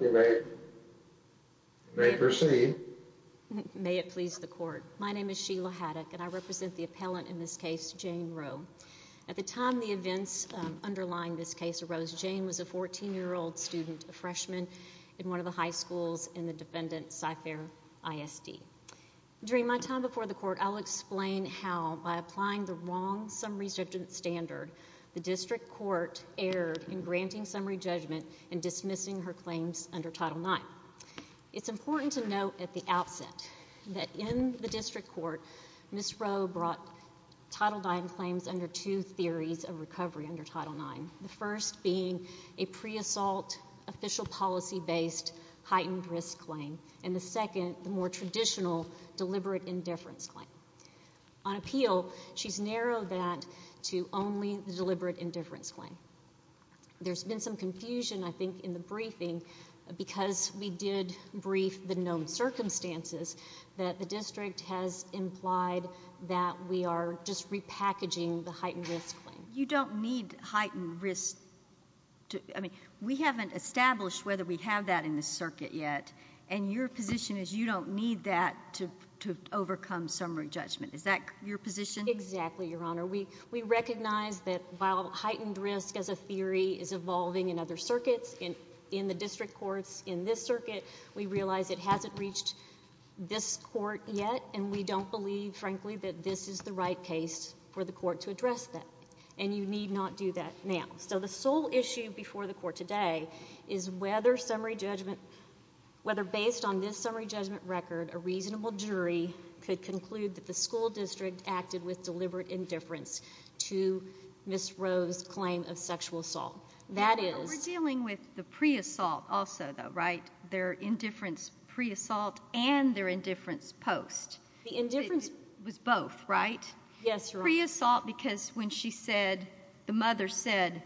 May it please the Court. My name is Sheila Haddock and I represent the appellant in this case, Jane Roe. At the time the events underlying this case arose, Jane was a 14-year-old student, a freshman in one of the high schools in the defendant, Cyfair ISD. During my time before the Court, I'll explain how, by applying the wrong summary judgment standard, the District Court erred in granting summary judgment and dismissing her claims under Title IX. It's important to note at the outset that in the District Court, Ms. Roe brought Title IX claims under two theories of recovery under Title IX, the first being a pre-assault, official policy-based heightened risk claim, and the second, the more traditional deliberate indifference claim. On appeal, she's narrowed that to only the deliberate indifference claim. There's been some confusion, I think, in the briefing because we did brief the known circumstances that the District has implied that we are just repackaging the heightened risk claim. You don't need heightened risk to, I mean, we haven't established whether we have that in the circuit yet, and your position is you don't need that to overcome summary judgment. Is that your position? Exactly, Your Honor. We recognize that while heightened risk as a theory is evolving in other circuits, in the District Courts, in this circuit, we realize it hasn't reached this Court yet, and we don't believe, frankly, that this is the right case for the Court to address that, and you need not do that now. So the sole issue before the Court today is whether summary judgment, whether based on this summary judgment record, a reasonable jury could conclude that the School District acted with deliberate indifference to Ms. Rowe's claim of sexual assault. That is- We're dealing with the pre-assault also, though, right? Their indifference pre-assault and their indifference post. Yes, Your Honor. Pre-assault because when she said, the mother said,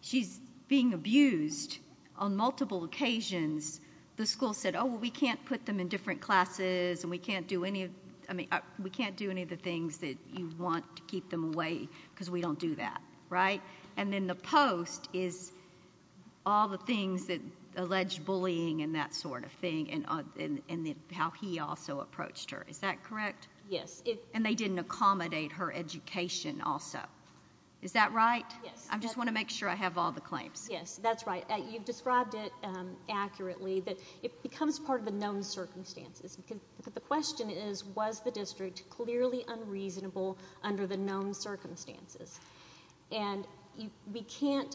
she's being abused on multiple occasions, the school said, oh, well, we can't put them in different classes, and we can't do any of, I mean, we can't do any of the things that you want to keep them away because we don't do that, right? And then the post is all the things that alleged bullying and that sort of thing, and how he also approached her. Is that correct? Yes. And they didn't accommodate her education also. Is that right? Yes. I just want to make sure I have all the claims. Yes, that's right. You've described it accurately that it becomes part of the known circumstances because the question is, was the district clearly unreasonable under the known circumstances? And we can't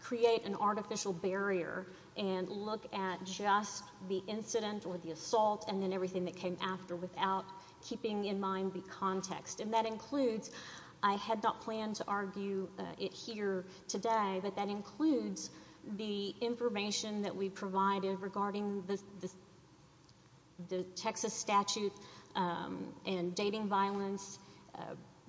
create an artificial barrier and look at just the incident or the assault and then everything that came after without keeping in mind the context. And that includes, I had not planned to argue it here today, but that includes the information that we provided regarding the Texas statute and dating violence,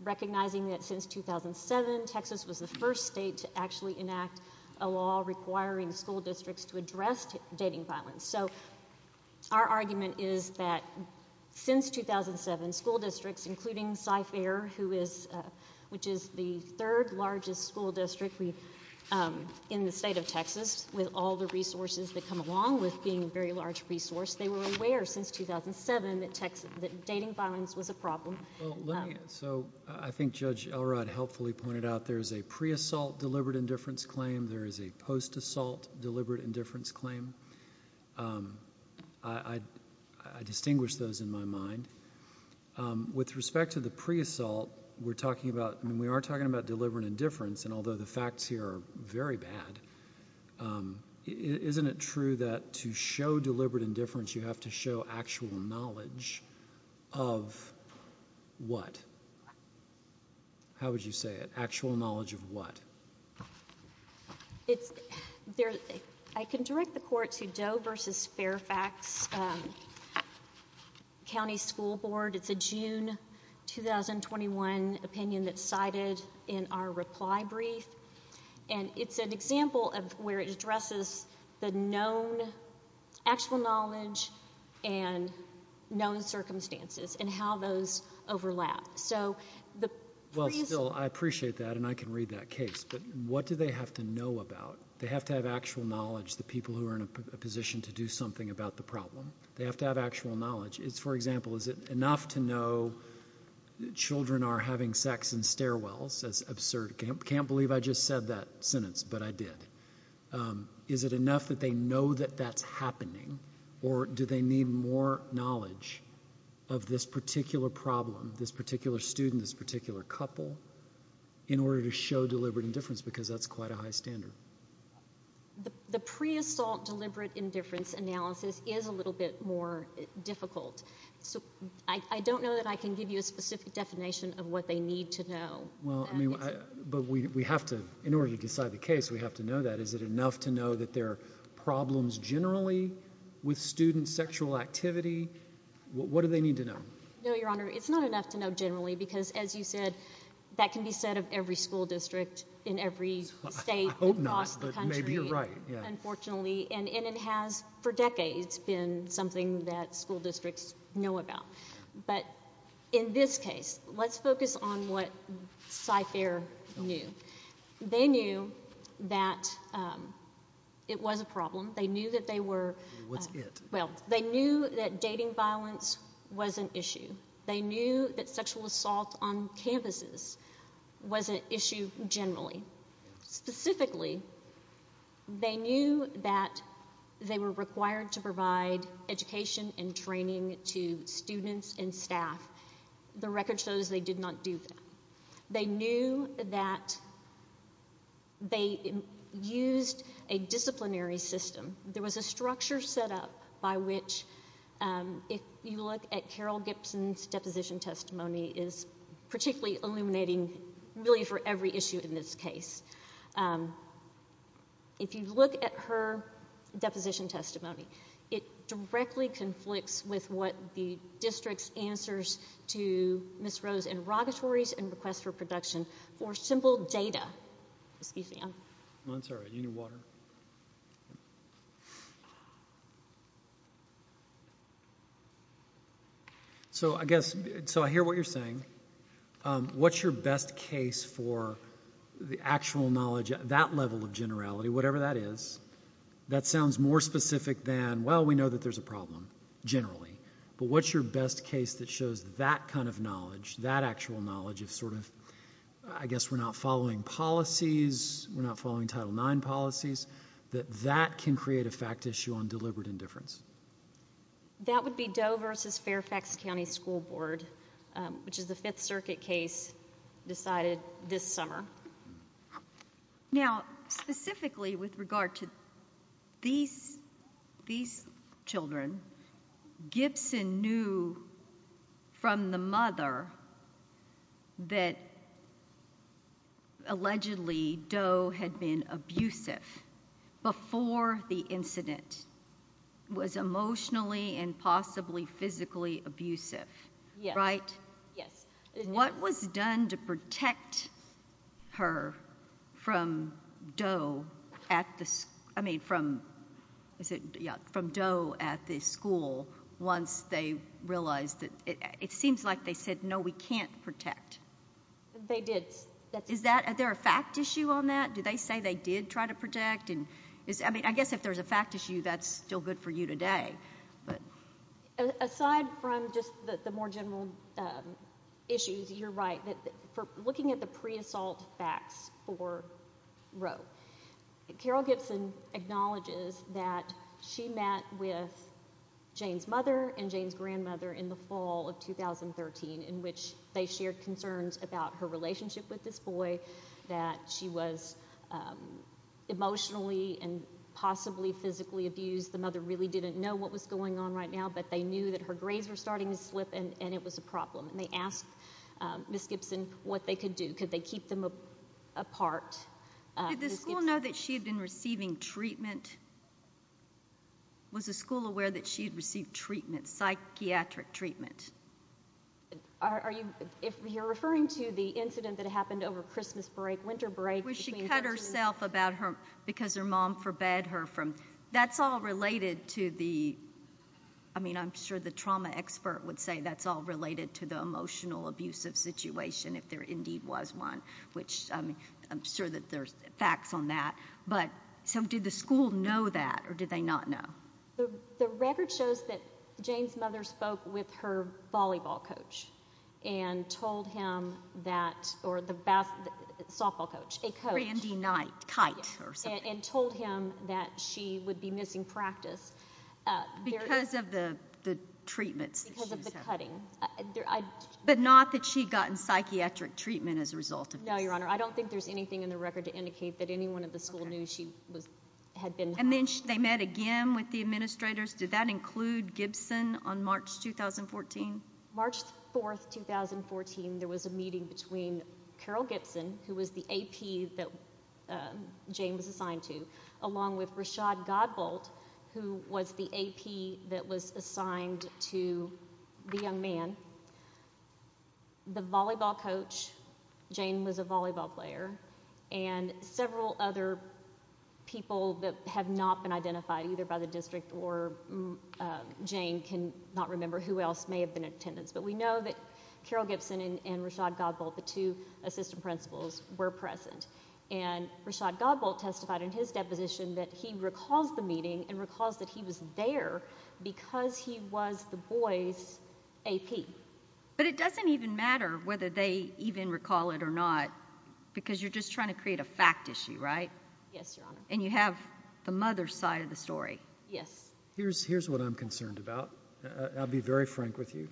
recognizing that since 2007, Texas was the first state to actually enact a law requiring school districts to address dating violence. So our argument is that since 2007, school districts, including Cy Fair, which is the third largest school district in the state of Texas with all the resources that come along with being a very large resource, they were aware since 2007 that dating violence was a problem. So I think Judge Elrod helpfully pointed out there is a pre-assault deliberate indifference claim. There is a post-assault deliberate indifference claim. I distinguish those in my mind. With respect to the pre-assault, we are talking about deliberate indifference, and although the facts here are very bad, isn't it true that to show deliberate indifference, you have to show actual knowledge of what? How would you say it? Actual knowledge of what? I can direct the court to Doe v. Fairfax County School Board. It's a June 2021 opinion that's cited in our reply brief, and it's an example of where it addresses the known actual knowledge and known circumstances and how those overlap. Well, still, I appreciate that, and I can read that case, but what do they have to know about? They have to have actual knowledge, the people who are in a position to do something about the problem. They have to have actual knowledge. It's, for example, is it enough to know children are having sex in stairwells? That's absurd. I can't believe I just said that sentence, but I did. Is it enough that they know that that's happening, or do they need more knowledge of this particular problem, this particular student, this particular couple, in order to show deliberate indifference because that's quite a high standard? The pre-assault deliberate indifference analysis is a little bit more difficult. I don't know that I can give you a specific definition of what they need to know. Well, I mean, but we have to, in order to decide the case, we have to know that. Is it enough to know that there are problems generally with student sexual activity? What do they need to know? No, Your Honor. It's not enough to know generally because, as you said, that can be said of every school district in every state across the country, unfortunately, and it has, for decades, been something that school districts know about. But in this case, let's focus on what CyFair knew. They knew that it was a problem. They knew that they were... What's it? Well, they knew that dating violence was an issue. They knew that sexual assault on campuses was an issue generally. Specifically, they knew that they were required to provide education and training to students and staff. The record shows they did not do that. They knew that they used a disciplinary system. There was a structure set up by which, if you look at Carol Gibson's deposition testimony, is particularly illuminating, really, for every issue in this case. If you look at her deposition testimony, it directly conflicts with what the district's answers to Ms. Rose's inrogatories and requests for production for simple data... I'm sorry. You knew water? I'm sorry. So I guess... So I hear what you're saying. What's your best case for the actual knowledge, that level of generality, whatever that is, that sounds more specific than, well, we know that there's a problem, generally, but what's your best case that shows that kind of knowledge, that actual knowledge of sort of... We're not following Title IX policies, that that can create a fact issue on deliberate indifference. That would be Doe versus Fairfax County School Board, which is the Fifth Circuit case decided this summer. Now, specifically with regard to these children, Gibson knew from the mother that, allegedly, Doe had been abusive before the incident, was emotionally and possibly physically abusive, right? Yes. Yes. What was done to protect her from Doe at the... I mean, from Doe at the school once they realized that... It seems like they said, no, we can't protect. They did. Is there a fact issue on that? Did they say they did try to protect? I guess if there's a fact issue, that's still good for you today. Aside from just the more general issues, you're right. Looking at the pre-assault facts for Roe, Carol Gibson acknowledges that she met with Jane's mother and Jane's grandmother in the fall of 2013, in which they shared concerns about her relationship with this boy, that she was emotionally and possibly physically abused. The mother really didn't know what was going on right now, but they knew that her grades were starting to slip and it was a problem. They asked Ms. Gibson what they could do. Could they keep them apart? Did the school know that she had been receiving treatment? Was the school aware that she had received treatment, psychiatric treatment? Are you... If you're referring to the incident that happened over Christmas break, winter break between... Where she cut herself about her... Because her mom forbade her from... That's all related to the... I mean, I'm sure the trauma expert would say that's all related to the emotional abusive situation, if there indeed was one, which I'm sure that there's facts on that. Did the school know that, or did they not know? The record shows that Jane's mother spoke with her volleyball coach and told him that, or the... Softball coach, a coach. Randy Knight, Kite, or something. And told him that she would be missing practice. Because of the treatments that she was having. Because of the cutting. But not that she'd gotten psychiatric treatment as a result of this. No, Your Honor. I don't think there's anything in the record to indicate that anyone at the school knew she had been... And then they met again with the administrators. Did that include Gibson on March 2014? March 4th, 2014, there was a meeting between Carol Gibson, who was the AP that Jane was assigned to, along with Rashad Godbolt, who was the AP that was assigned to the young man. The volleyball coach, Jane was a volleyball player. And several other people that have not been identified, either by the district or Jane, can not remember who else may have been in attendance. But we know that Carol Gibson and Rashad Godbolt, the two assistant principals, were present. And Rashad Godbolt testified in his deposition that he recalls the meeting and recalls that he was there because he was the boy's AP. But it doesn't even matter whether they even recall it or not, because you're just trying to create a fact issue, right? Yes, Your Honor. And you have the mother's side of the story. Yes. Here's what I'm concerned about. I'll be very frank with you.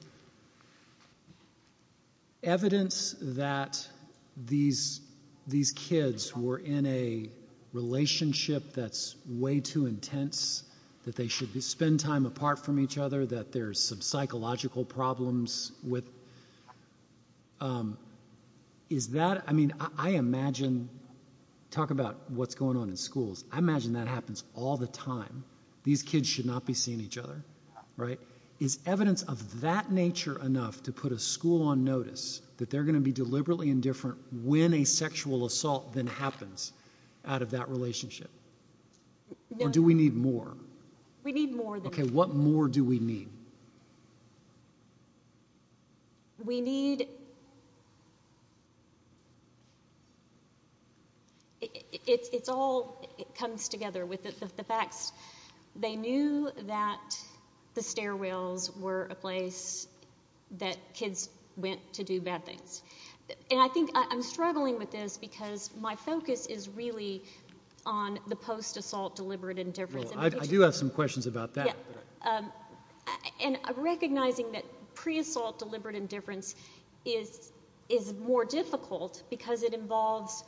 Evidence that these kids were in a relationship that's way too intense, that they should spend time apart from each other, that there's some psychological problems with, is that – I mean, I imagine – talk about what's going on in schools – I imagine that happens all the time. These kids should not be seeing each other, right? Is evidence of that nature enough to put a school on notice that they're going to be deliberately indifferent when a sexual assault then happens out of that relationship? Or do we need more? We need more than that. Okay, what more do we need? We need – it all comes together with the facts. They knew that the stairwells were a place that kids went to do bad things. And I think – I'm struggling with this because my focus is really on the post-assault deliberate indifference. I do have some questions about that. And recognizing that pre-assault deliberate indifference is more difficult because it involves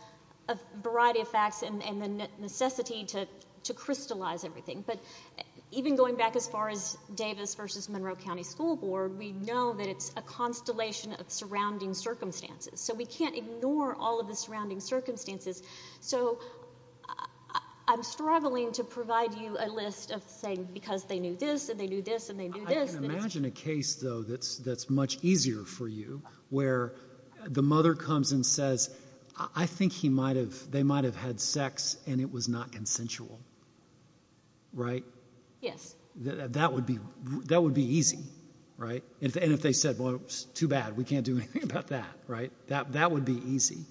a variety of facts and the necessity to crystallize everything. But even going back as far as Davis versus Monroe County School Board, we know that it's a constellation of surrounding circumstances. So we can't ignore all of the surrounding circumstances. So I'm struggling to provide you a list of saying because they knew this and they knew this and they knew this. I can imagine a case, though, that's much easier for you where the mother comes and says I think he might have – they might have had sex and it was not consensual, right? Yes. That would be – that would be easy, right? And if they said, well, it's too bad, we can't do anything about that, right? That would be easy.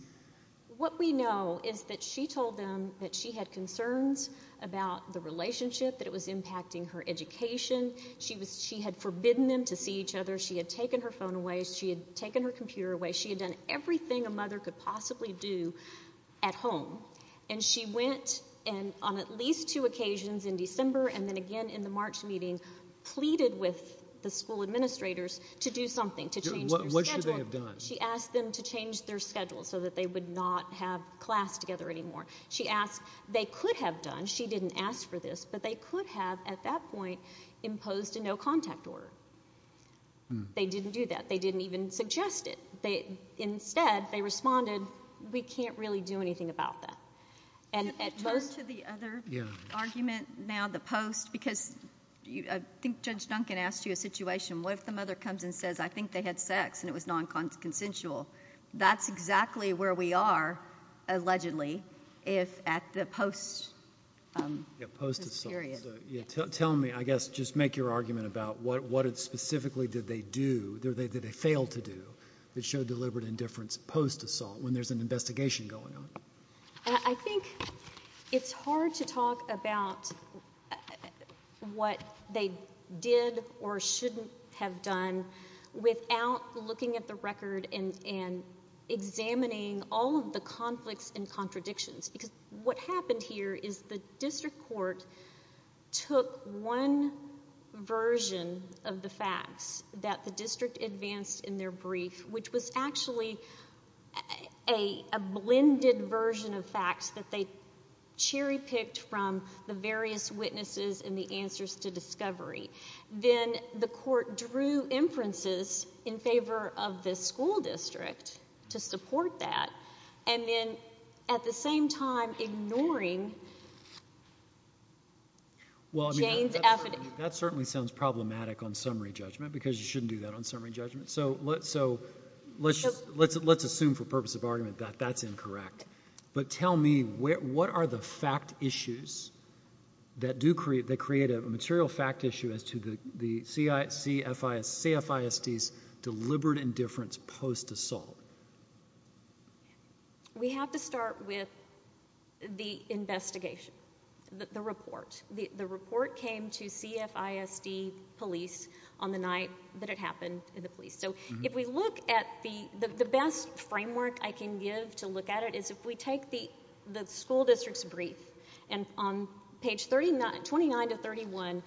What we know is that she told them that she had concerns about the relationship, that it was impacting her education. She was – she had forbidden them to see each other. She had taken her phone away. She had taken her computer away. She had done everything a mother could possibly do at home. And she went and on at least two occasions in December and then again in the March meeting pleaded with the school administrators to do something, to change their schedule. What should they have done? She asked them to change their schedule so that they would not have class together anymore. She asked – they could have done. She didn't ask for this, but they could have at that point imposed a no-contact order. They didn't do that. They didn't even suggest it. Instead, they responded, we can't really do anything about that. And at most – Turn to the other argument now, the post, because I think Judge Duncan asked you a situation. What if the mother comes and says, I think they had sex and it was non-consensual? That's exactly where we are, allegedly, if – at the post period. Yeah, post-assault. So tell me, I guess, just make your argument about what specifically did they do, did they fail to do, that showed deliberate indifference post-assault when there's an investigation going on? I think it's hard to talk about what they did or shouldn't have done without looking at the record and examining all of the conflicts and contradictions, because what happened here is the district court took one version of the facts that the district advanced in their brief, which was actually a blended version of facts that they cherry-picked from the various witnesses and the answers to discovery. Then the court drew inferences in favor of the school district to support that, and then at the same time ignoring Jane's evidence. That certainly sounds problematic on summary judgment, because you shouldn't do that on summary judgment. So let's just – let's assume for purpose of argument that that's incorrect. But tell me, what are the fact issues that do create – that create a material fact issue as to the CFISD's deliberate indifference post-assault? We have to start with the investigation, the report. The report came to CFISD police on the night that it happened in the police. So if we look at the – the best framework I can give to look at it is if we take the school district's brief, and on page 29 to 31,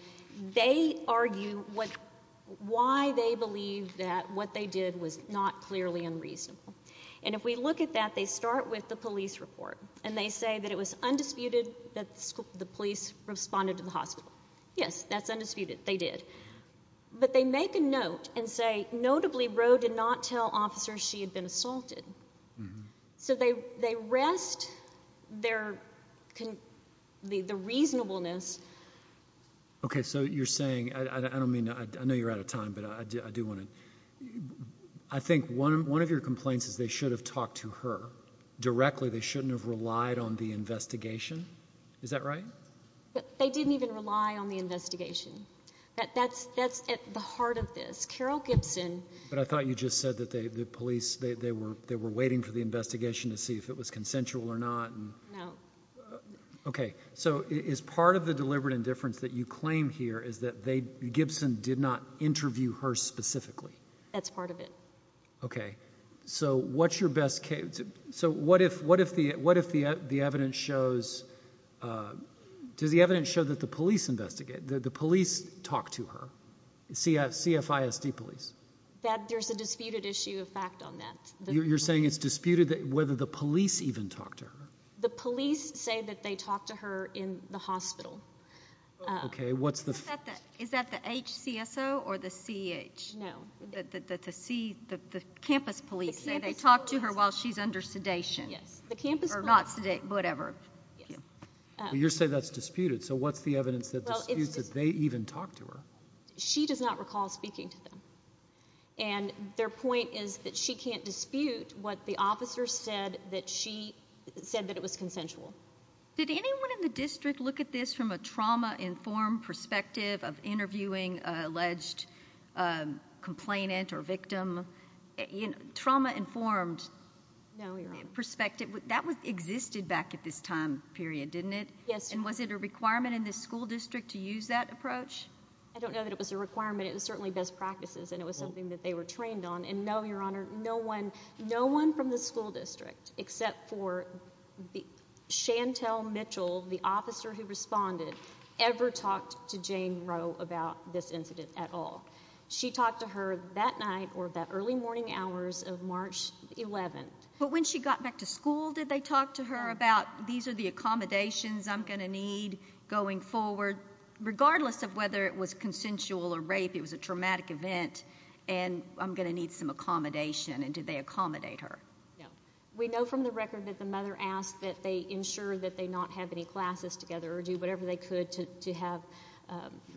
they argue what – why they believe that what they did was not clearly unreasonable. And if we look at that, they start with the police report, and they say that it was undisputed that the police responded to the hospital. Yes, that's undisputed. They did. But they make a note and say, notably, Roe did not tell officers she had been assaulted. So they rest their – the reasonableness – Okay. So you're saying – I don't mean to – I know you're out of time, but I do want to – I think one of your complaints is they should have talked to her directly. They shouldn't have relied on the investigation. Is that right? They didn't even rely on the investigation. That's at the heart of this. Carol Gibson – But I thought you just said that the police – they were waiting for the investigation to see if it was consensual or not. No. Okay. So is part of the deliberate indifference that you claim here is that they – Gibson did not interview her specifically? That's part of it. Okay. So what's your best – So what if the evidence shows – does the evidence show that the police investigate – that the police talked to her, CFISD police? There's a disputed issue of fact on that. You're saying it's disputed whether the police even talked to her? The police say that they talked to her in the hospital. Okay. What's the – Is that the HCSO or the CH? The C – the campus police say they talked to her while she's under investigation. While she's under sedation. Yes. The campus police – Or not – whatever. Yes. You're saying that's disputed. So what's the evidence that disputes that they even talked to her? She does not recall speaking to them. And their point is that she can't dispute what the officer said that she – said that it was consensual. Did anyone in the district look at this from a trauma-informed perspective of interviewing an alleged complainant or victim? Trauma-informed – No, Your Honor. Perspective. That existed back at this time period, didn't it? Yes, Your Honor. And was it a requirement in the school district to use that approach? I don't know that it was a requirement. It was certainly best practices, and it was something that they were trained on. And no, Your Honor, no one – no one from the school district except for Chantel Mitchell, the officer who responded, ever talked to Jane Rowe about this incident at all. She talked to her that night or that early morning hours of March 11th. But when she got back to school, did they talk to her about, these are the accommodations I'm going to need going forward, regardless of whether it was consensual or rape, it was a traumatic event, and I'm going to need some accommodation. And did they accommodate her? No. We know from the record that the mother asked that they ensure that they not have any classes together or do whatever they could to have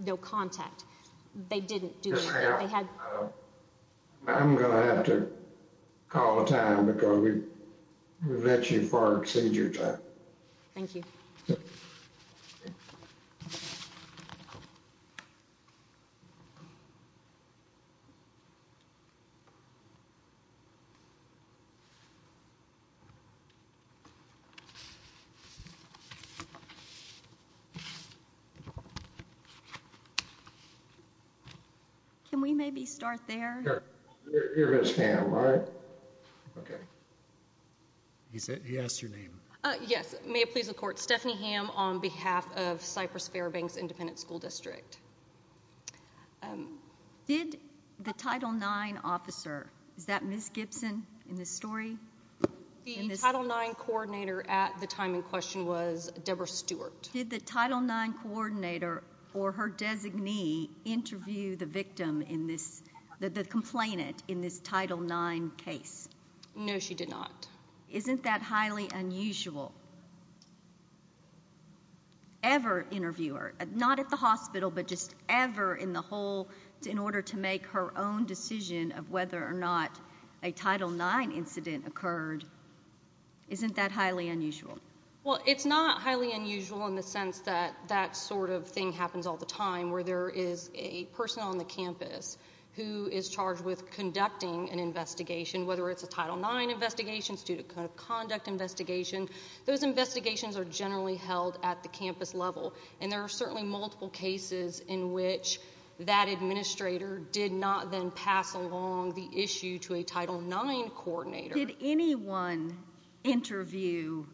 no contact. They didn't do that. I'm going to have to call a time because we've let you far exceed your time. Thank you. Can we maybe start there? Sure. You're Ms. Hamm, right? Okay. He asked your name. Yes. May it please the Court. Stephanie Hamm on behalf of Cypress-Fairbanks Independent School District. Did the Title IX officer – is that Ms. Gibson in this story? The Title IX coordinator at the time in question was Deborah Stewart. Did the Title IX coordinator or her designee interview the victim in this – the complainant in this Title IX case? No, she did not. Isn't that highly unusual? Ever interview her, not at the hospital, but just ever in the whole – in order to make her own decision of whether or not a Title IX incident occurred. Isn't that highly unusual? Well, it's not highly unusual in the sense that that sort of thing happens all the time where there is a person on the campus who is charged with conducting an investigation, whether it's a Title IX investigation, student conduct investigation. Those investigations are generally held at the campus level, and there are certainly multiple cases in which that administrator did not then pass along the issue to a Title IX coordinator. Did anyone interview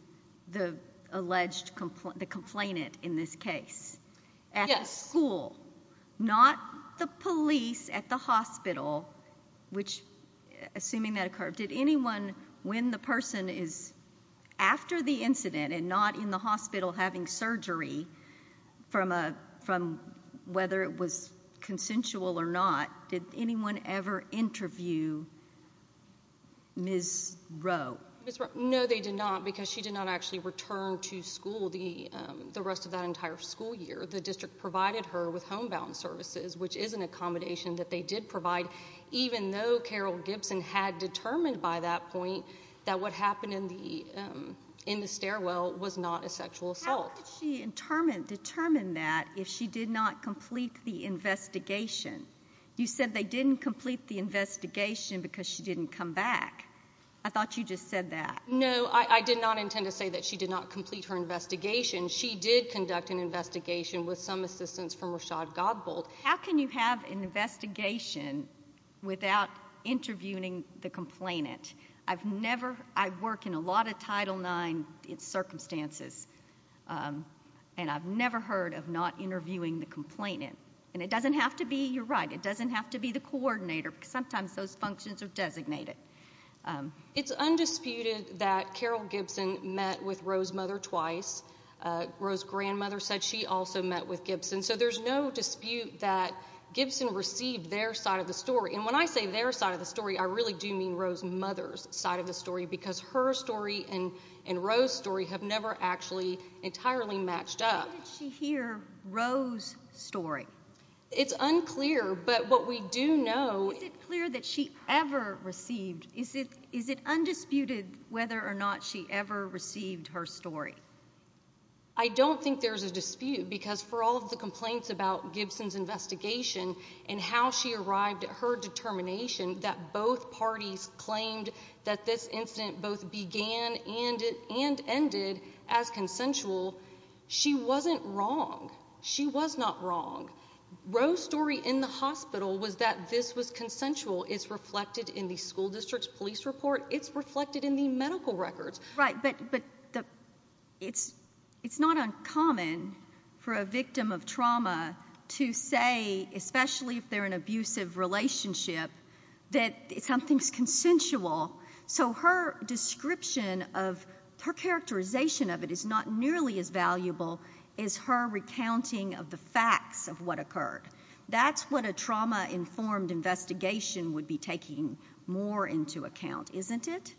the alleged – the complainant in this case? Yes. At the school, not the police at the hospital, which – assuming that occurred, did anyone – when the person is after the incident and not in the hospital having surgery from whether it was consensual or not, did anyone ever interview Ms. Rowe? No, they did not, because she did not actually return to school the rest of that entire school year. The district provided her with homebound services, which is an accommodation that they did provide, even though Carol Gibson had determined by that point that what happened in the stairwell was not a sexual assault. How did she determine that if she did not complete the investigation? You said they didn't complete the investigation because she didn't come back. I thought you just said that. No, I did not intend to say that she did not complete her investigation. She did conduct an investigation with some assistance from Rashad Godbold. How can you have an investigation without interviewing the complainant? I work in a lot of Title IX circumstances, and I've never heard of not interviewing the complainant. And it doesn't have to be – you're right – it doesn't have to be the coordinator, because sometimes those functions are designated. It's undisputed that Carol Gibson met with Rowe's mother twice. Rowe's grandmother said she also met with Gibson, so there's no dispute that Gibson received their side of the story. And when I say their side of the story, I really do mean Rowe's mother's side of the story because her story and Rowe's story have never actually entirely matched up. How did she hear Rowe's story? It's unclear, but what we do know – Is it clear that she ever received – is it undisputed whether or not she ever received her story? I don't think there's a dispute because for all of the complaints about Gibson's investigation and how she arrived at her determination that both parties claimed that this incident both began and ended as consensual, she wasn't wrong. She was not wrong. Rowe's story in the hospital was that this was consensual. It's reflected in the school district's police report. It's reflected in the medical records. Right, but it's not uncommon for a victim of trauma to say, especially if they're in an abusive relationship, that something's consensual. So her description of – her characterization of it is not nearly as valuable as her recounting of the facts of what occurred. That's what a trauma-informed investigation would be taking more into account, isn't it?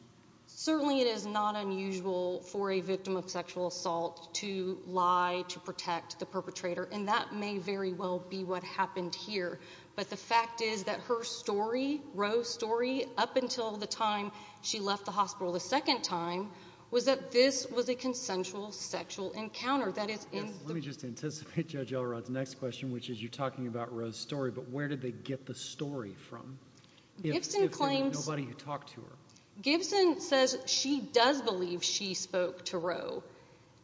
Certainly it is not unusual for a victim of sexual assault to lie to protect the perpetrator, and that may very well be what happened here. But the fact is that her story, Rowe's story, up until the time she left the hospital the second time, was that this was a consensual sexual encounter. Let me just anticipate Judge Elrod's next question, which is you're talking about Rowe's story, but where did they get the story from if there was nobody who talked to her? Gibson says she does believe she spoke to Rowe.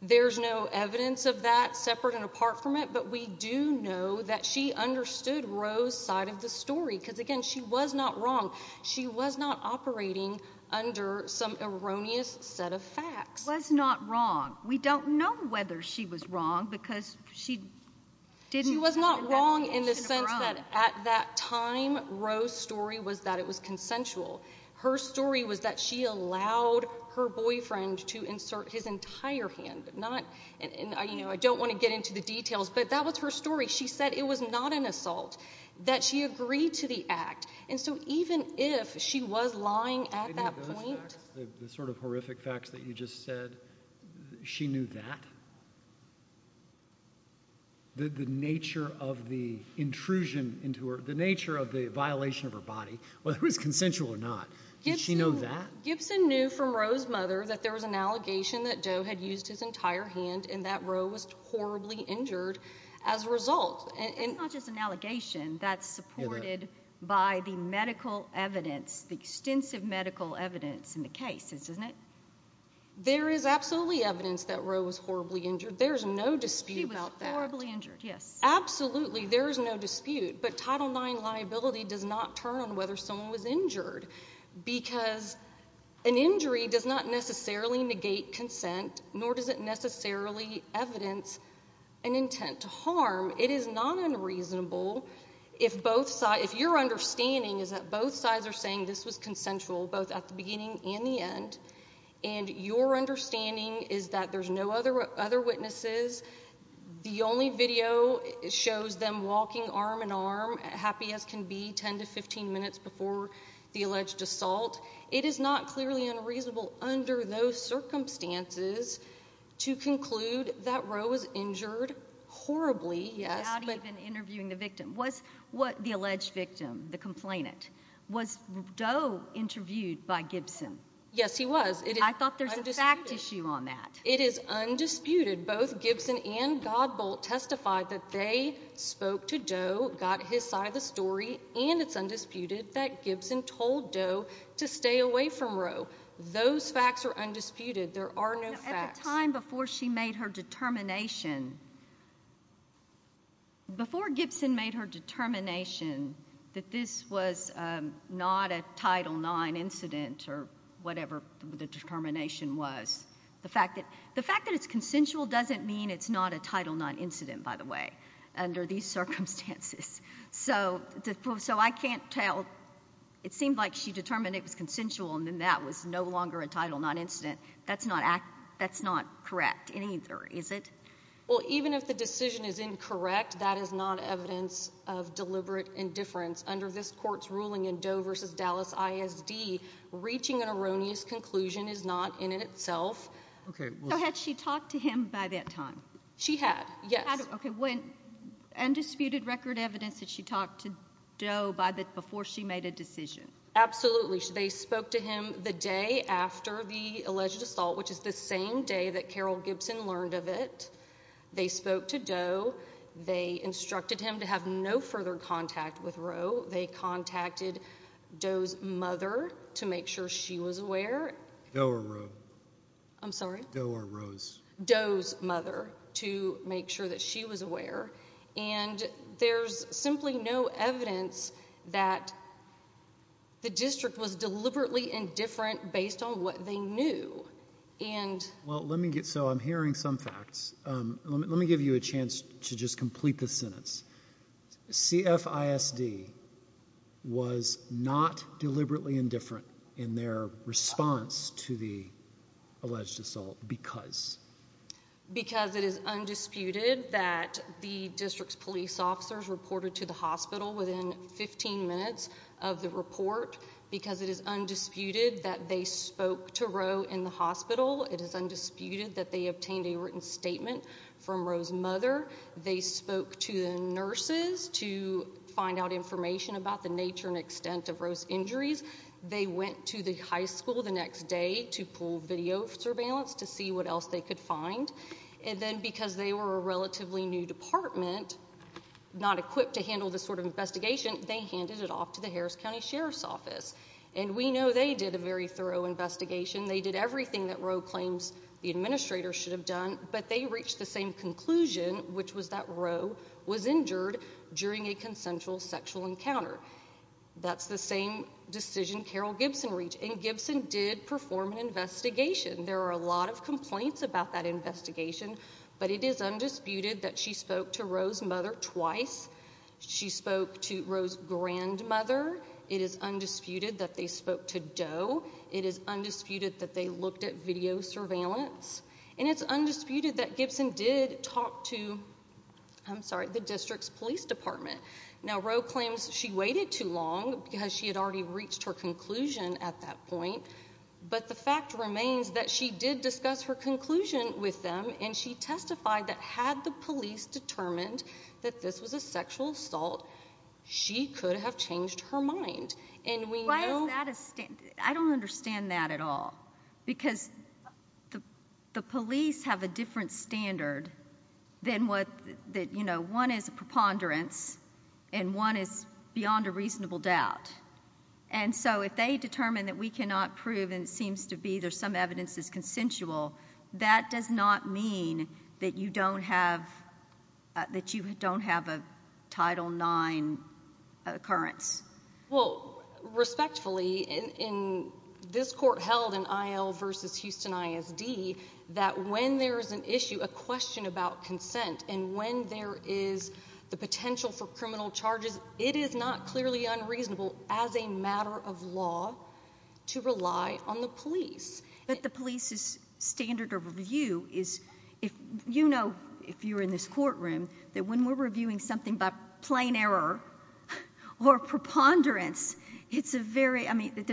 There's no evidence of that separate and apart from it, but we do know that she understood Rowe's side of the story because, again, she was not wrong. She was not operating under some erroneous set of facts. She was not wrong. We don't know whether she was wrong because she didn't have that notion of wrong. She was not wrong in the sense that at that time Rowe's story was that it was consensual. Her story was that she allowed her boyfriend to insert his entire hand. I don't want to get into the details, but that was her story. She said it was not an assault, that she agreed to the act. And so even if she was lying at that point. The sort of horrific facts that you just said, she knew that? The nature of the intrusion into her, the nature of the violation of her body, whether it was consensual or not, did she know that? Gibson knew from Rowe's mother that there was an allegation that Doe had used his entire hand and that Rowe was horribly injured as a result. It's not just an allegation. That's supported by the medical evidence, the extensive medical evidence in the cases, isn't it? There is absolutely evidence that Rowe was horribly injured. There is no dispute about that. She was horribly injured, yes. Absolutely, there is no dispute. But Title IX liability does not turn on whether someone was injured because an injury does not necessarily negate consent, nor does it necessarily evidence an intent to harm. It is not unreasonable if your understanding is that both sides are saying this was consensual, both at the beginning and the end, and your understanding is that there's no other witnesses. The only video shows them walking arm in arm, happy as can be, 10 to 15 minutes before the alleged assault. It is not clearly unreasonable under those circumstances to conclude that Rowe was injured horribly. Without even interviewing the victim. Was the alleged victim, the complainant, was Doe interviewed by Gibson? Yes, he was. I thought there's a fact issue on that. It is undisputed. Both Gibson and Godbolt testified that they spoke to Doe, got his side of the story, and it's undisputed that Gibson told Doe to stay away from Rowe. Those facts are undisputed. There are no facts. At the time before she made her determination, before Gibson made her determination that this was not a Title IX incident or whatever the determination was, the fact that it's consensual doesn't mean it's not a Title IX incident, by the way, under these circumstances. So I can't tell. It seemed like she determined it was consensual and then that was no longer a Title IX incident. That's not correct either, is it? Well, even if the decision is incorrect, that is not evidence of deliberate indifference. Under this Court's ruling in Doe v. Dallas ISD, reaching an erroneous conclusion is not in itself. Okay. So had she talked to him by that time? She had, yes. Okay. Undisputed record evidence that she talked to Doe before she made a decision? Absolutely. They spoke to him the day after the alleged assault, which is the same day that Carol Gibson learned of it. They spoke to Doe. They instructed him to have no further contact with Roe. They contacted Doe's mother to make sure she was aware. Doe or Roe? I'm sorry? Doe or Roe's? Doe's mother to make sure that she was aware. And there's simply no evidence that the district was deliberately indifferent based on what they knew. So I'm hearing some facts. Let me give you a chance to just complete the sentence. CFISD was not deliberately indifferent in their response to the alleged assault because? Because it is undisputed that the district's police officers reported to the hospital within 15 minutes of the report because it is undisputed that they spoke to Roe in the hospital. It is undisputed that they obtained a written statement from Roe's mother. They spoke to the nurses to find out information about the nature and extent of Roe's injuries. They went to the high school the next day to pull video surveillance to see what else they could find. And then because they were a relatively new department, not equipped to handle this sort of investigation, they handed it off to the Harris County Sheriff's Office. And we know they did a very thorough investigation. They did everything that Roe claims the administrator should have done, but they reached the same conclusion, which was that Roe was injured during a consensual sexual encounter. That's the same decision Carol Gibson reached, and Gibson did perform an investigation. There are a lot of complaints about that investigation, but it is undisputed that she spoke to Roe's mother twice. She spoke to Roe's grandmother. It is undisputed that they spoke to Doe. It is undisputed that they looked at video surveillance. And it's undisputed that Gibson did talk to the district's police department. Now Roe claims she waited too long because she had already reached her conclusion at that point, but the fact remains that she did discuss her conclusion with them, and she testified that had the police determined that this was a sexual assault, she could have changed her mind. And we know— Why is that a—I don't understand that at all, because the police have a different standard than what—you know, one is a preponderance and one is beyond a reasonable doubt. And so if they determine that we cannot prove, and it seems to be there's some evidence that's consensual, that does not mean that you don't have a Title IX occurrence. Well, respectfully, this court held in I.L. v. Houston I.S.D. that when there is an issue, a question about consent, and when there is the potential for criminal charges, it is not clearly unreasonable as a matter of law to rely on the police. But the police's standard of review is—you know, if you're in this courtroom, that when we're reviewing something by plain error or preponderance, it's a very—I mean,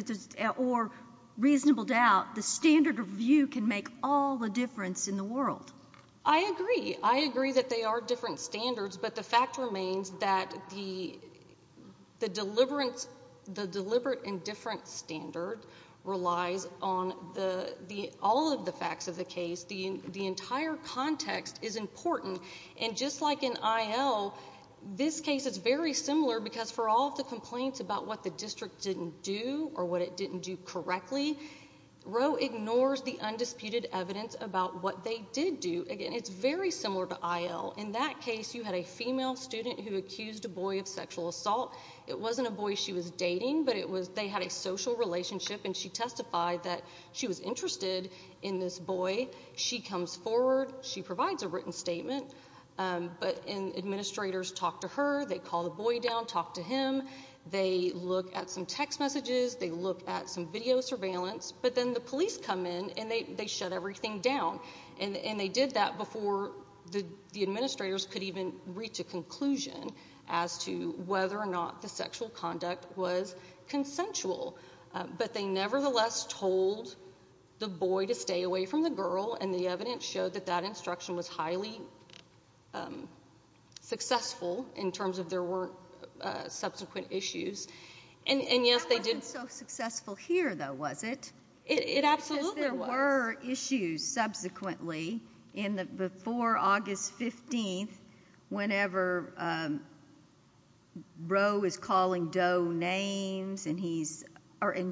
or reasonable doubt, the standard of review can make all the difference in the world. I agree. I agree that they are different standards, but the fact remains that the deliberate and different standard relies on all of the facts of the case. The entire context is important. And just like in I.L., this case is very similar, because for all of the complaints about what the district didn't do or what it didn't do correctly, Roe ignores the undisputed evidence about what they did do. Again, it's very similar to I.L. In that case, you had a female student who accused a boy of sexual assault. It wasn't a boy she was dating, but it was—they had a social relationship, and she testified that she was interested in this boy. She comes forward. She provides a written statement. But administrators talk to her. They call the boy down, talk to him. They look at some text messages. They look at some video surveillance. But then the police come in, and they shut everything down. And they did that before the administrators could even reach a conclusion as to whether or not the sexual conduct was consensual. But they nevertheless told the boy to stay away from the girl, and the evidence showed that that instruction was highly successful in terms of there weren't subsequent issues. And, yes, they did— That wasn't so successful here, though, was it? It absolutely was. There were issues subsequently before August 15th whenever Roe is calling Doe names, and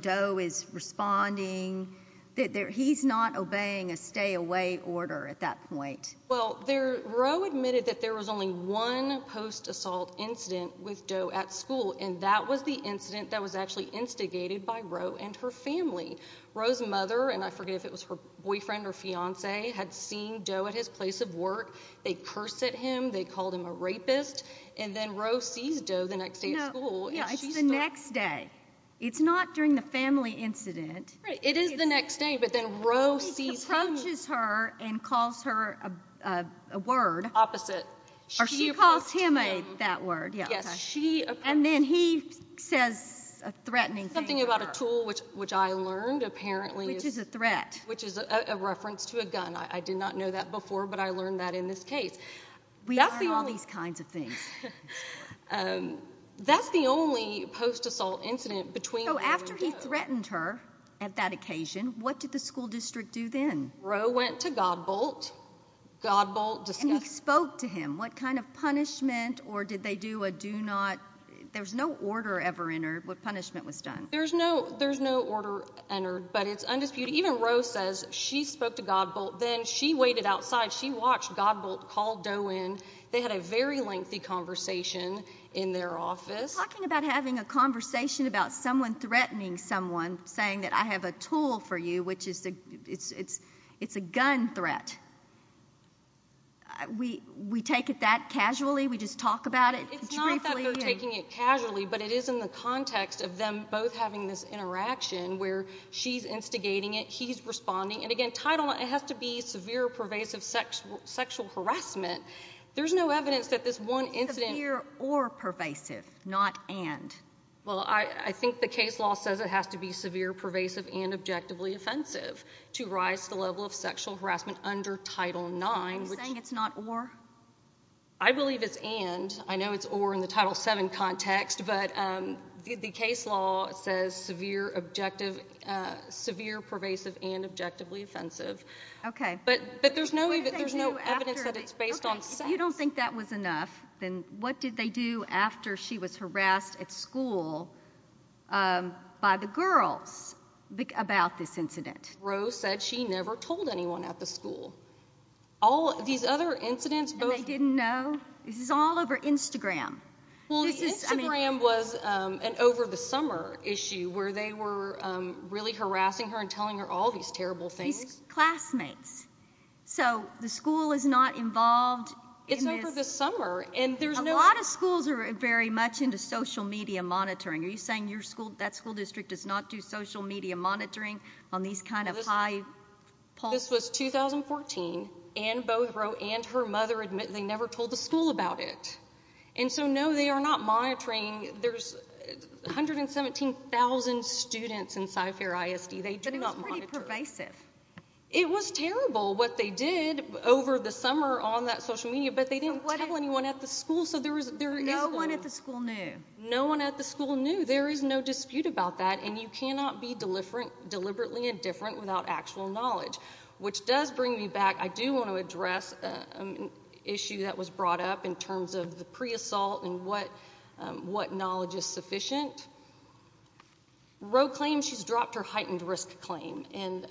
Doe is responding. He's not obeying a stay-away order at that point. Well, Roe admitted that there was only one post-assault incident with Doe at school, and that was the incident that was actually instigated by Roe and her family. Roe's mother—and I forget if it was her boyfriend or fiancé—had seen Doe at his place of work. They cursed at him. They called him a rapist. And then Roe sees Doe the next day at school. It's the next day. It's not during the family incident. It is the next day, but then Roe sees him— He approaches her and calls her a word. Opposite. Yes, she— And then he says a threatening thing to her. Something about a tool, which I learned, apparently— Which is a threat. Which is a reference to a gun. I did not know that before, but I learned that in this case. We learn all these kinds of things. That's the only post-assault incident between Roe and Doe. So after he threatened her at that occasion, what did the school district do then? Roe went to Godbolt. Godbolt discussed— And he spoke to him. What kind of punishment, or did they do a do-not— There was no order ever entered what punishment was done. There's no order entered, but it's undisputed. Even Roe says she spoke to Godbolt. Then she waited outside. She watched Godbolt call Doe in. They had a very lengthy conversation in their office. You're talking about having a conversation about someone threatening someone, saying that I have a tool for you, which is— It's a gun threat. We take it that casually? We just talk about it briefly? It's not that they're taking it casually, but it is in the context of them both having this interaction where she's instigating it, he's responding. And again, Title IX, it has to be severe, pervasive sexual harassment. There's no evidence that this one incident— Severe or pervasive, not and. Well, I think the case law says it has to be severe, pervasive, and objectively offensive to rise to the level of sexual harassment under Title IX. Are you saying it's not or? I believe it's and. I know it's or in the Title VII context, but the case law says severe, pervasive, and objectively offensive. Okay. But there's no evidence that it's based on sex. If you don't think that was enough, then what did they do after she was harassed at school by the girls about this incident? Rose said she never told anyone at the school. These other incidents— And they didn't know? This is all over Instagram. Well, the Instagram was an over-the-summer issue where they were really harassing her and telling her all these terrible things. These classmates. So the school is not involved in this— It's over the summer, and there's no— A lot of schools are very much into social media monitoring. Are you saying that school district does not do social media monitoring on these kind of high— This was 2014. Ann Bothrow and her mother admit they never told the school about it. And so, no, they are not monitoring. There's 117,000 students in SciFair ISD. They do not monitor. But it was pretty pervasive. It was terrible what they did over the summer on that social media, but they didn't tell anyone at the school, so there is no— No one at the school knew. No one at the school knew. There is no dispute about that, and you cannot be deliberately indifferent without actual knowledge, which does bring me back— I do want to address an issue that was brought up in terms of the pre-assault and what knowledge is sufficient. Roe claims she's dropped her heightened risk claim, and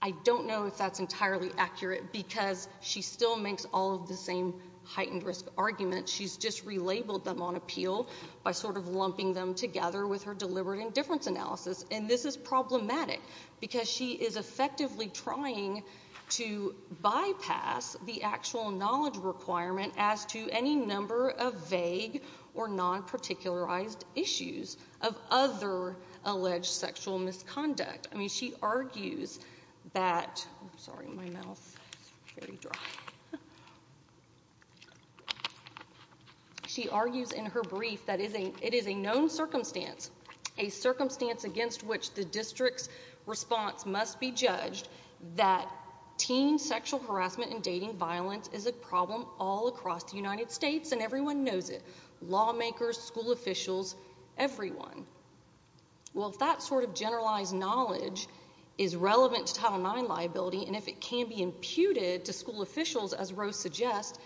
I don't know if that's entirely accurate because she still makes all of the same heightened risk arguments. She's just relabeled them on appeal by sort of lumping them together with her deliberate indifference analysis, and this is problematic because she is effectively trying to bypass the actual knowledge requirement as to any number of vague or non-particularized issues of other alleged sexual misconduct. I mean, she argues that— I'm sorry, my mouth is very dry. She argues in her brief that it is a known circumstance, a circumstance against which the district's response must be judged, that teen sexual harassment and dating violence is a problem all across the United States, and everyone knows it—lawmakers, school officials, everyone. Well, if that sort of generalized knowledge is relevant to Title IX liability, and if it can be imputed to school officials, as Roe suggests,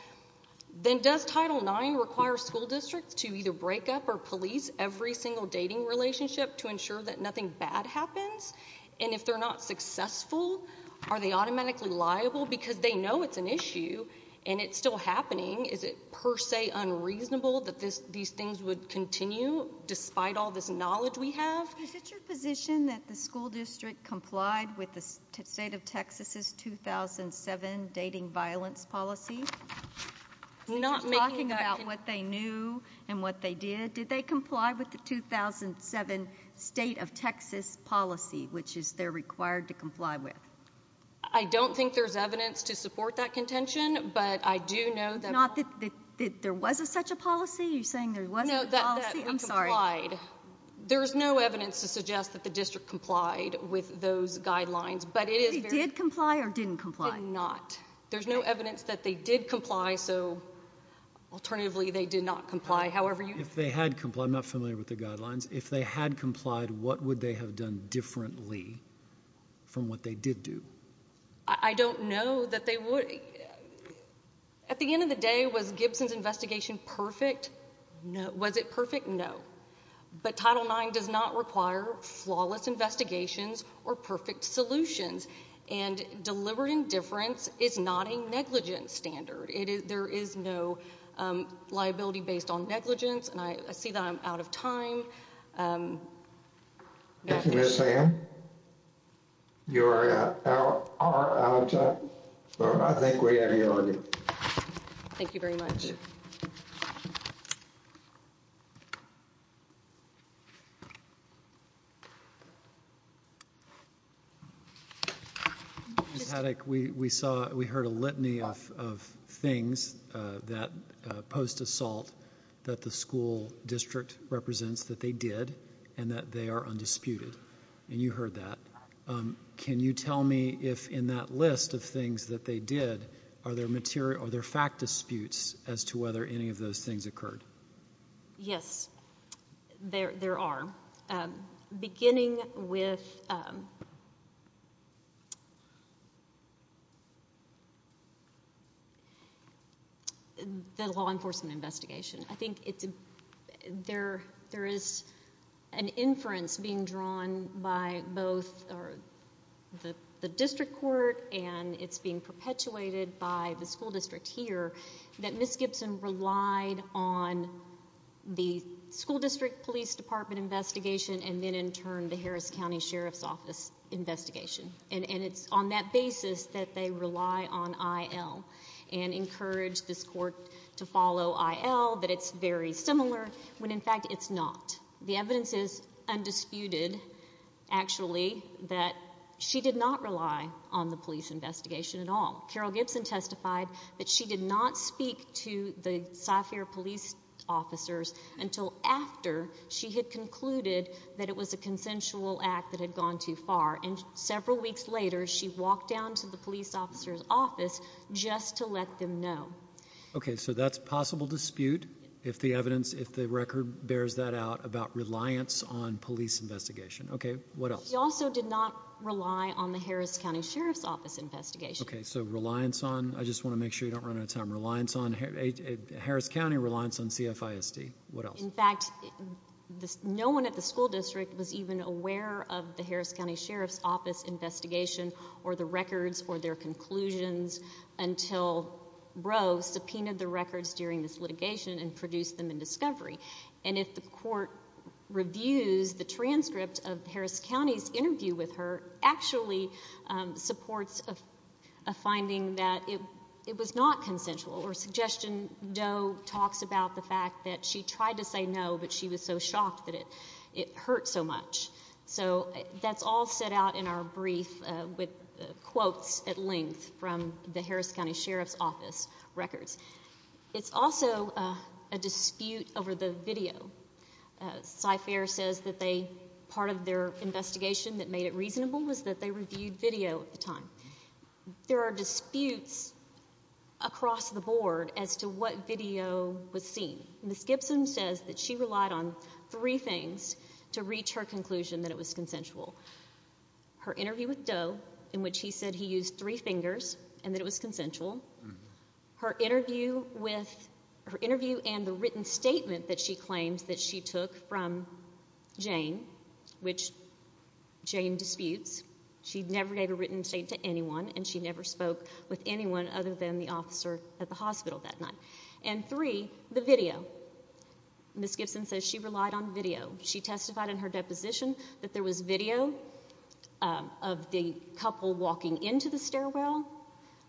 then does Title IX require school districts to either break up or police every single dating relationship to ensure that nothing bad happens? And if they're not successful, are they automatically liable because they know it's an issue and it's still happening? Is it per se unreasonable that these things would continue despite all this knowledge we have? Is it your position that the school district complied with the state of Texas' 2007 dating violence policy? Not making a— Talking about what they knew and what they did. Did they comply with the 2007 state of Texas policy, which is they're required to comply with? I don't think there's evidence to support that contention, but I do know that— Not that there was such a policy? You're saying there wasn't a policy? No, that we complied. There is no evidence to suggest that the district complied with those guidelines, but it is very— Did they comply or didn't comply? Did not. There's no evidence that they did comply, so alternatively they did not comply. If they had complied—I'm not familiar with the guidelines. If they had complied, what would they have done differently from what they did do? I don't know that they would— At the end of the day, was Gibson's investigation perfect? No. Was it perfect? No. But Title IX does not require flawless investigations or perfect solutions, and deliberate indifference is not a negligence standard. There is no liability based on negligence, and I see that I'm out of time. Thank you, Ms. Sam. You are out of time. I think we have your argument. Thank you very much. Ms. Haddock, we heard a litany of things post-assault that the school district represents that they did and that they are undisputed, and you heard that. Can you tell me if, in that list of things that they did, are there fact disputes as to whether any of those things occurred? Yes, there are, beginning with the law enforcement investigation. I think there is an inference being drawn by both the district court and it's being perpetuated by the school district here that Ms. Gibson relied on the school district police department investigation and then, in turn, the Harris County Sheriff's Office investigation. And it's on that basis that they rely on IL and encourage this court to follow IL, that it's very similar, when, in fact, it's not. The evidence is undisputed, actually, that she did not rely on the police investigation at all. Carol Gibson testified that she did not speak to the Cyfire police officers until after she had concluded that it was a consensual act that had gone too far. And several weeks later, she walked down to the police officer's office just to let them know. Okay, so that's possible dispute if the evidence, if the record bears that out, about reliance on police investigation. Okay, what else? She also did not rely on the Harris County Sheriff's Office investigation. Okay, so reliance on, I just want to make sure you don't run out of time, reliance on, Harris County reliance on CFISD. What else? In fact, no one at the school district was even aware of the Harris County Sheriff's Office investigation or the records or their conclusions until Brough subpoenaed the records during this litigation and produced them in discovery. And if the court reviews the transcript of Harris County's interview with her, actually supports a finding that it was not consensual or suggestion Doe talks about the fact that she tried to say no, but she was so shocked that it hurt so much. So that's all set out in our brief with quotes at length from the Harris County Sheriff's Office records. It's also a dispute over the video. CIFARE says that part of their investigation that made it reasonable was that they reviewed video at the time. There are disputes across the board as to what video was seen. Ms. Gibson says that she relied on three things to reach her conclusion that it was consensual. Her interview with Doe in which he said he used three fingers and that it was consensual. Her interview with, her interview and the written statement that she claims that she took from Jane, which Jane disputes, she never gave a written statement to anyone and she never spoke with anyone other than the officer at the hospital that night. And three, the video. Ms. Gibson says she relied on video. She testified in her deposition that there was video of the couple walking into the stairwell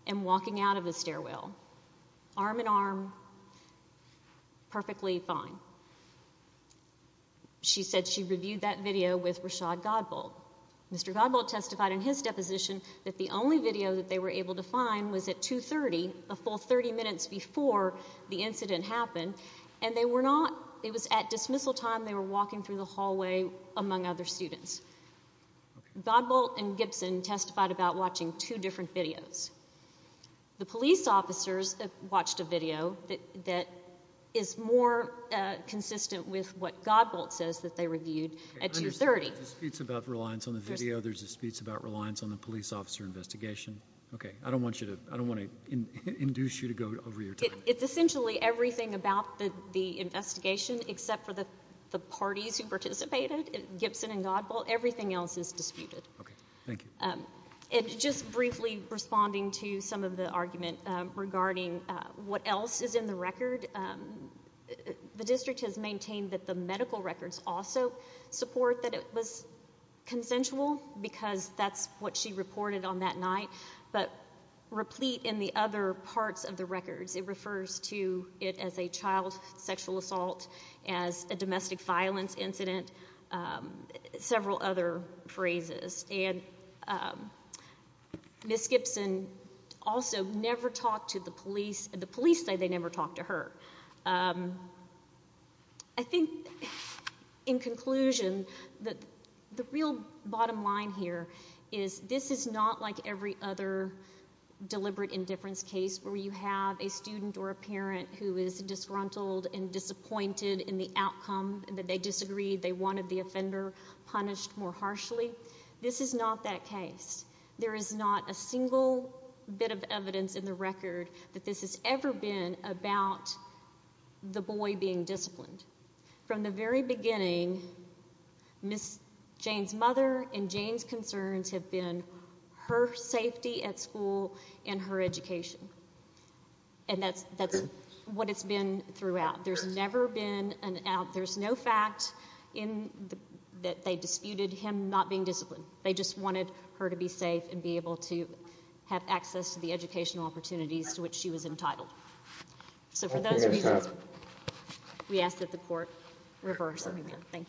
and walking out of the stairwell, arm in arm, perfectly fine. She said she reviewed that video with Rashad Godbold. Mr. Godbold testified in his deposition that the only video that they were able to find was at 2.30, a full 30 minutes before the incident happened, and they were not, it was at dismissal time, they were walking through the hallway among other students. Godbold and Gibson testified about watching two different videos. The police officers watched a video that is more consistent with what Godbold says that they reviewed at 2.30. There's disputes about reliance on the video. There's disputes about reliance on the police officer investigation. Okay. I don't want to induce you to go over your time. It's essentially everything about the investigation except for the parties who participated, Gibson and Godbold. Everything else is disputed. Okay. Thank you. And just briefly responding to some of the argument regarding what else is in the record, the district has maintained that the medical records also support that it was consensual because that's what she reported on that night, but replete in the other parts of the records. It refers to it as a child sexual assault, as a domestic violence incident, several other phrases. And Ms. Gibson also never talked to the police. The police say they never talked to her. I think in conclusion, the real bottom line here is this is not like every other deliberate indifference case where you have a student or a parent who is disgruntled and disappointed in the outcome, that they disagreed, they wanted the offender punished more harshly. This is not that case. There is not a single bit of evidence in the record that this has ever been about the boy being disciplined. From the very beginning, Ms. Jane's mother and Jane's concerns have been her safety at school and her education, and that's what it's been throughout. There's never been an out. There's no fact that they disputed him not being disciplined. They just wanted her to be safe and be able to have access to the educational opportunities to which she was entitled. So for those reasons, we ask that the court reverse the review. Thank you.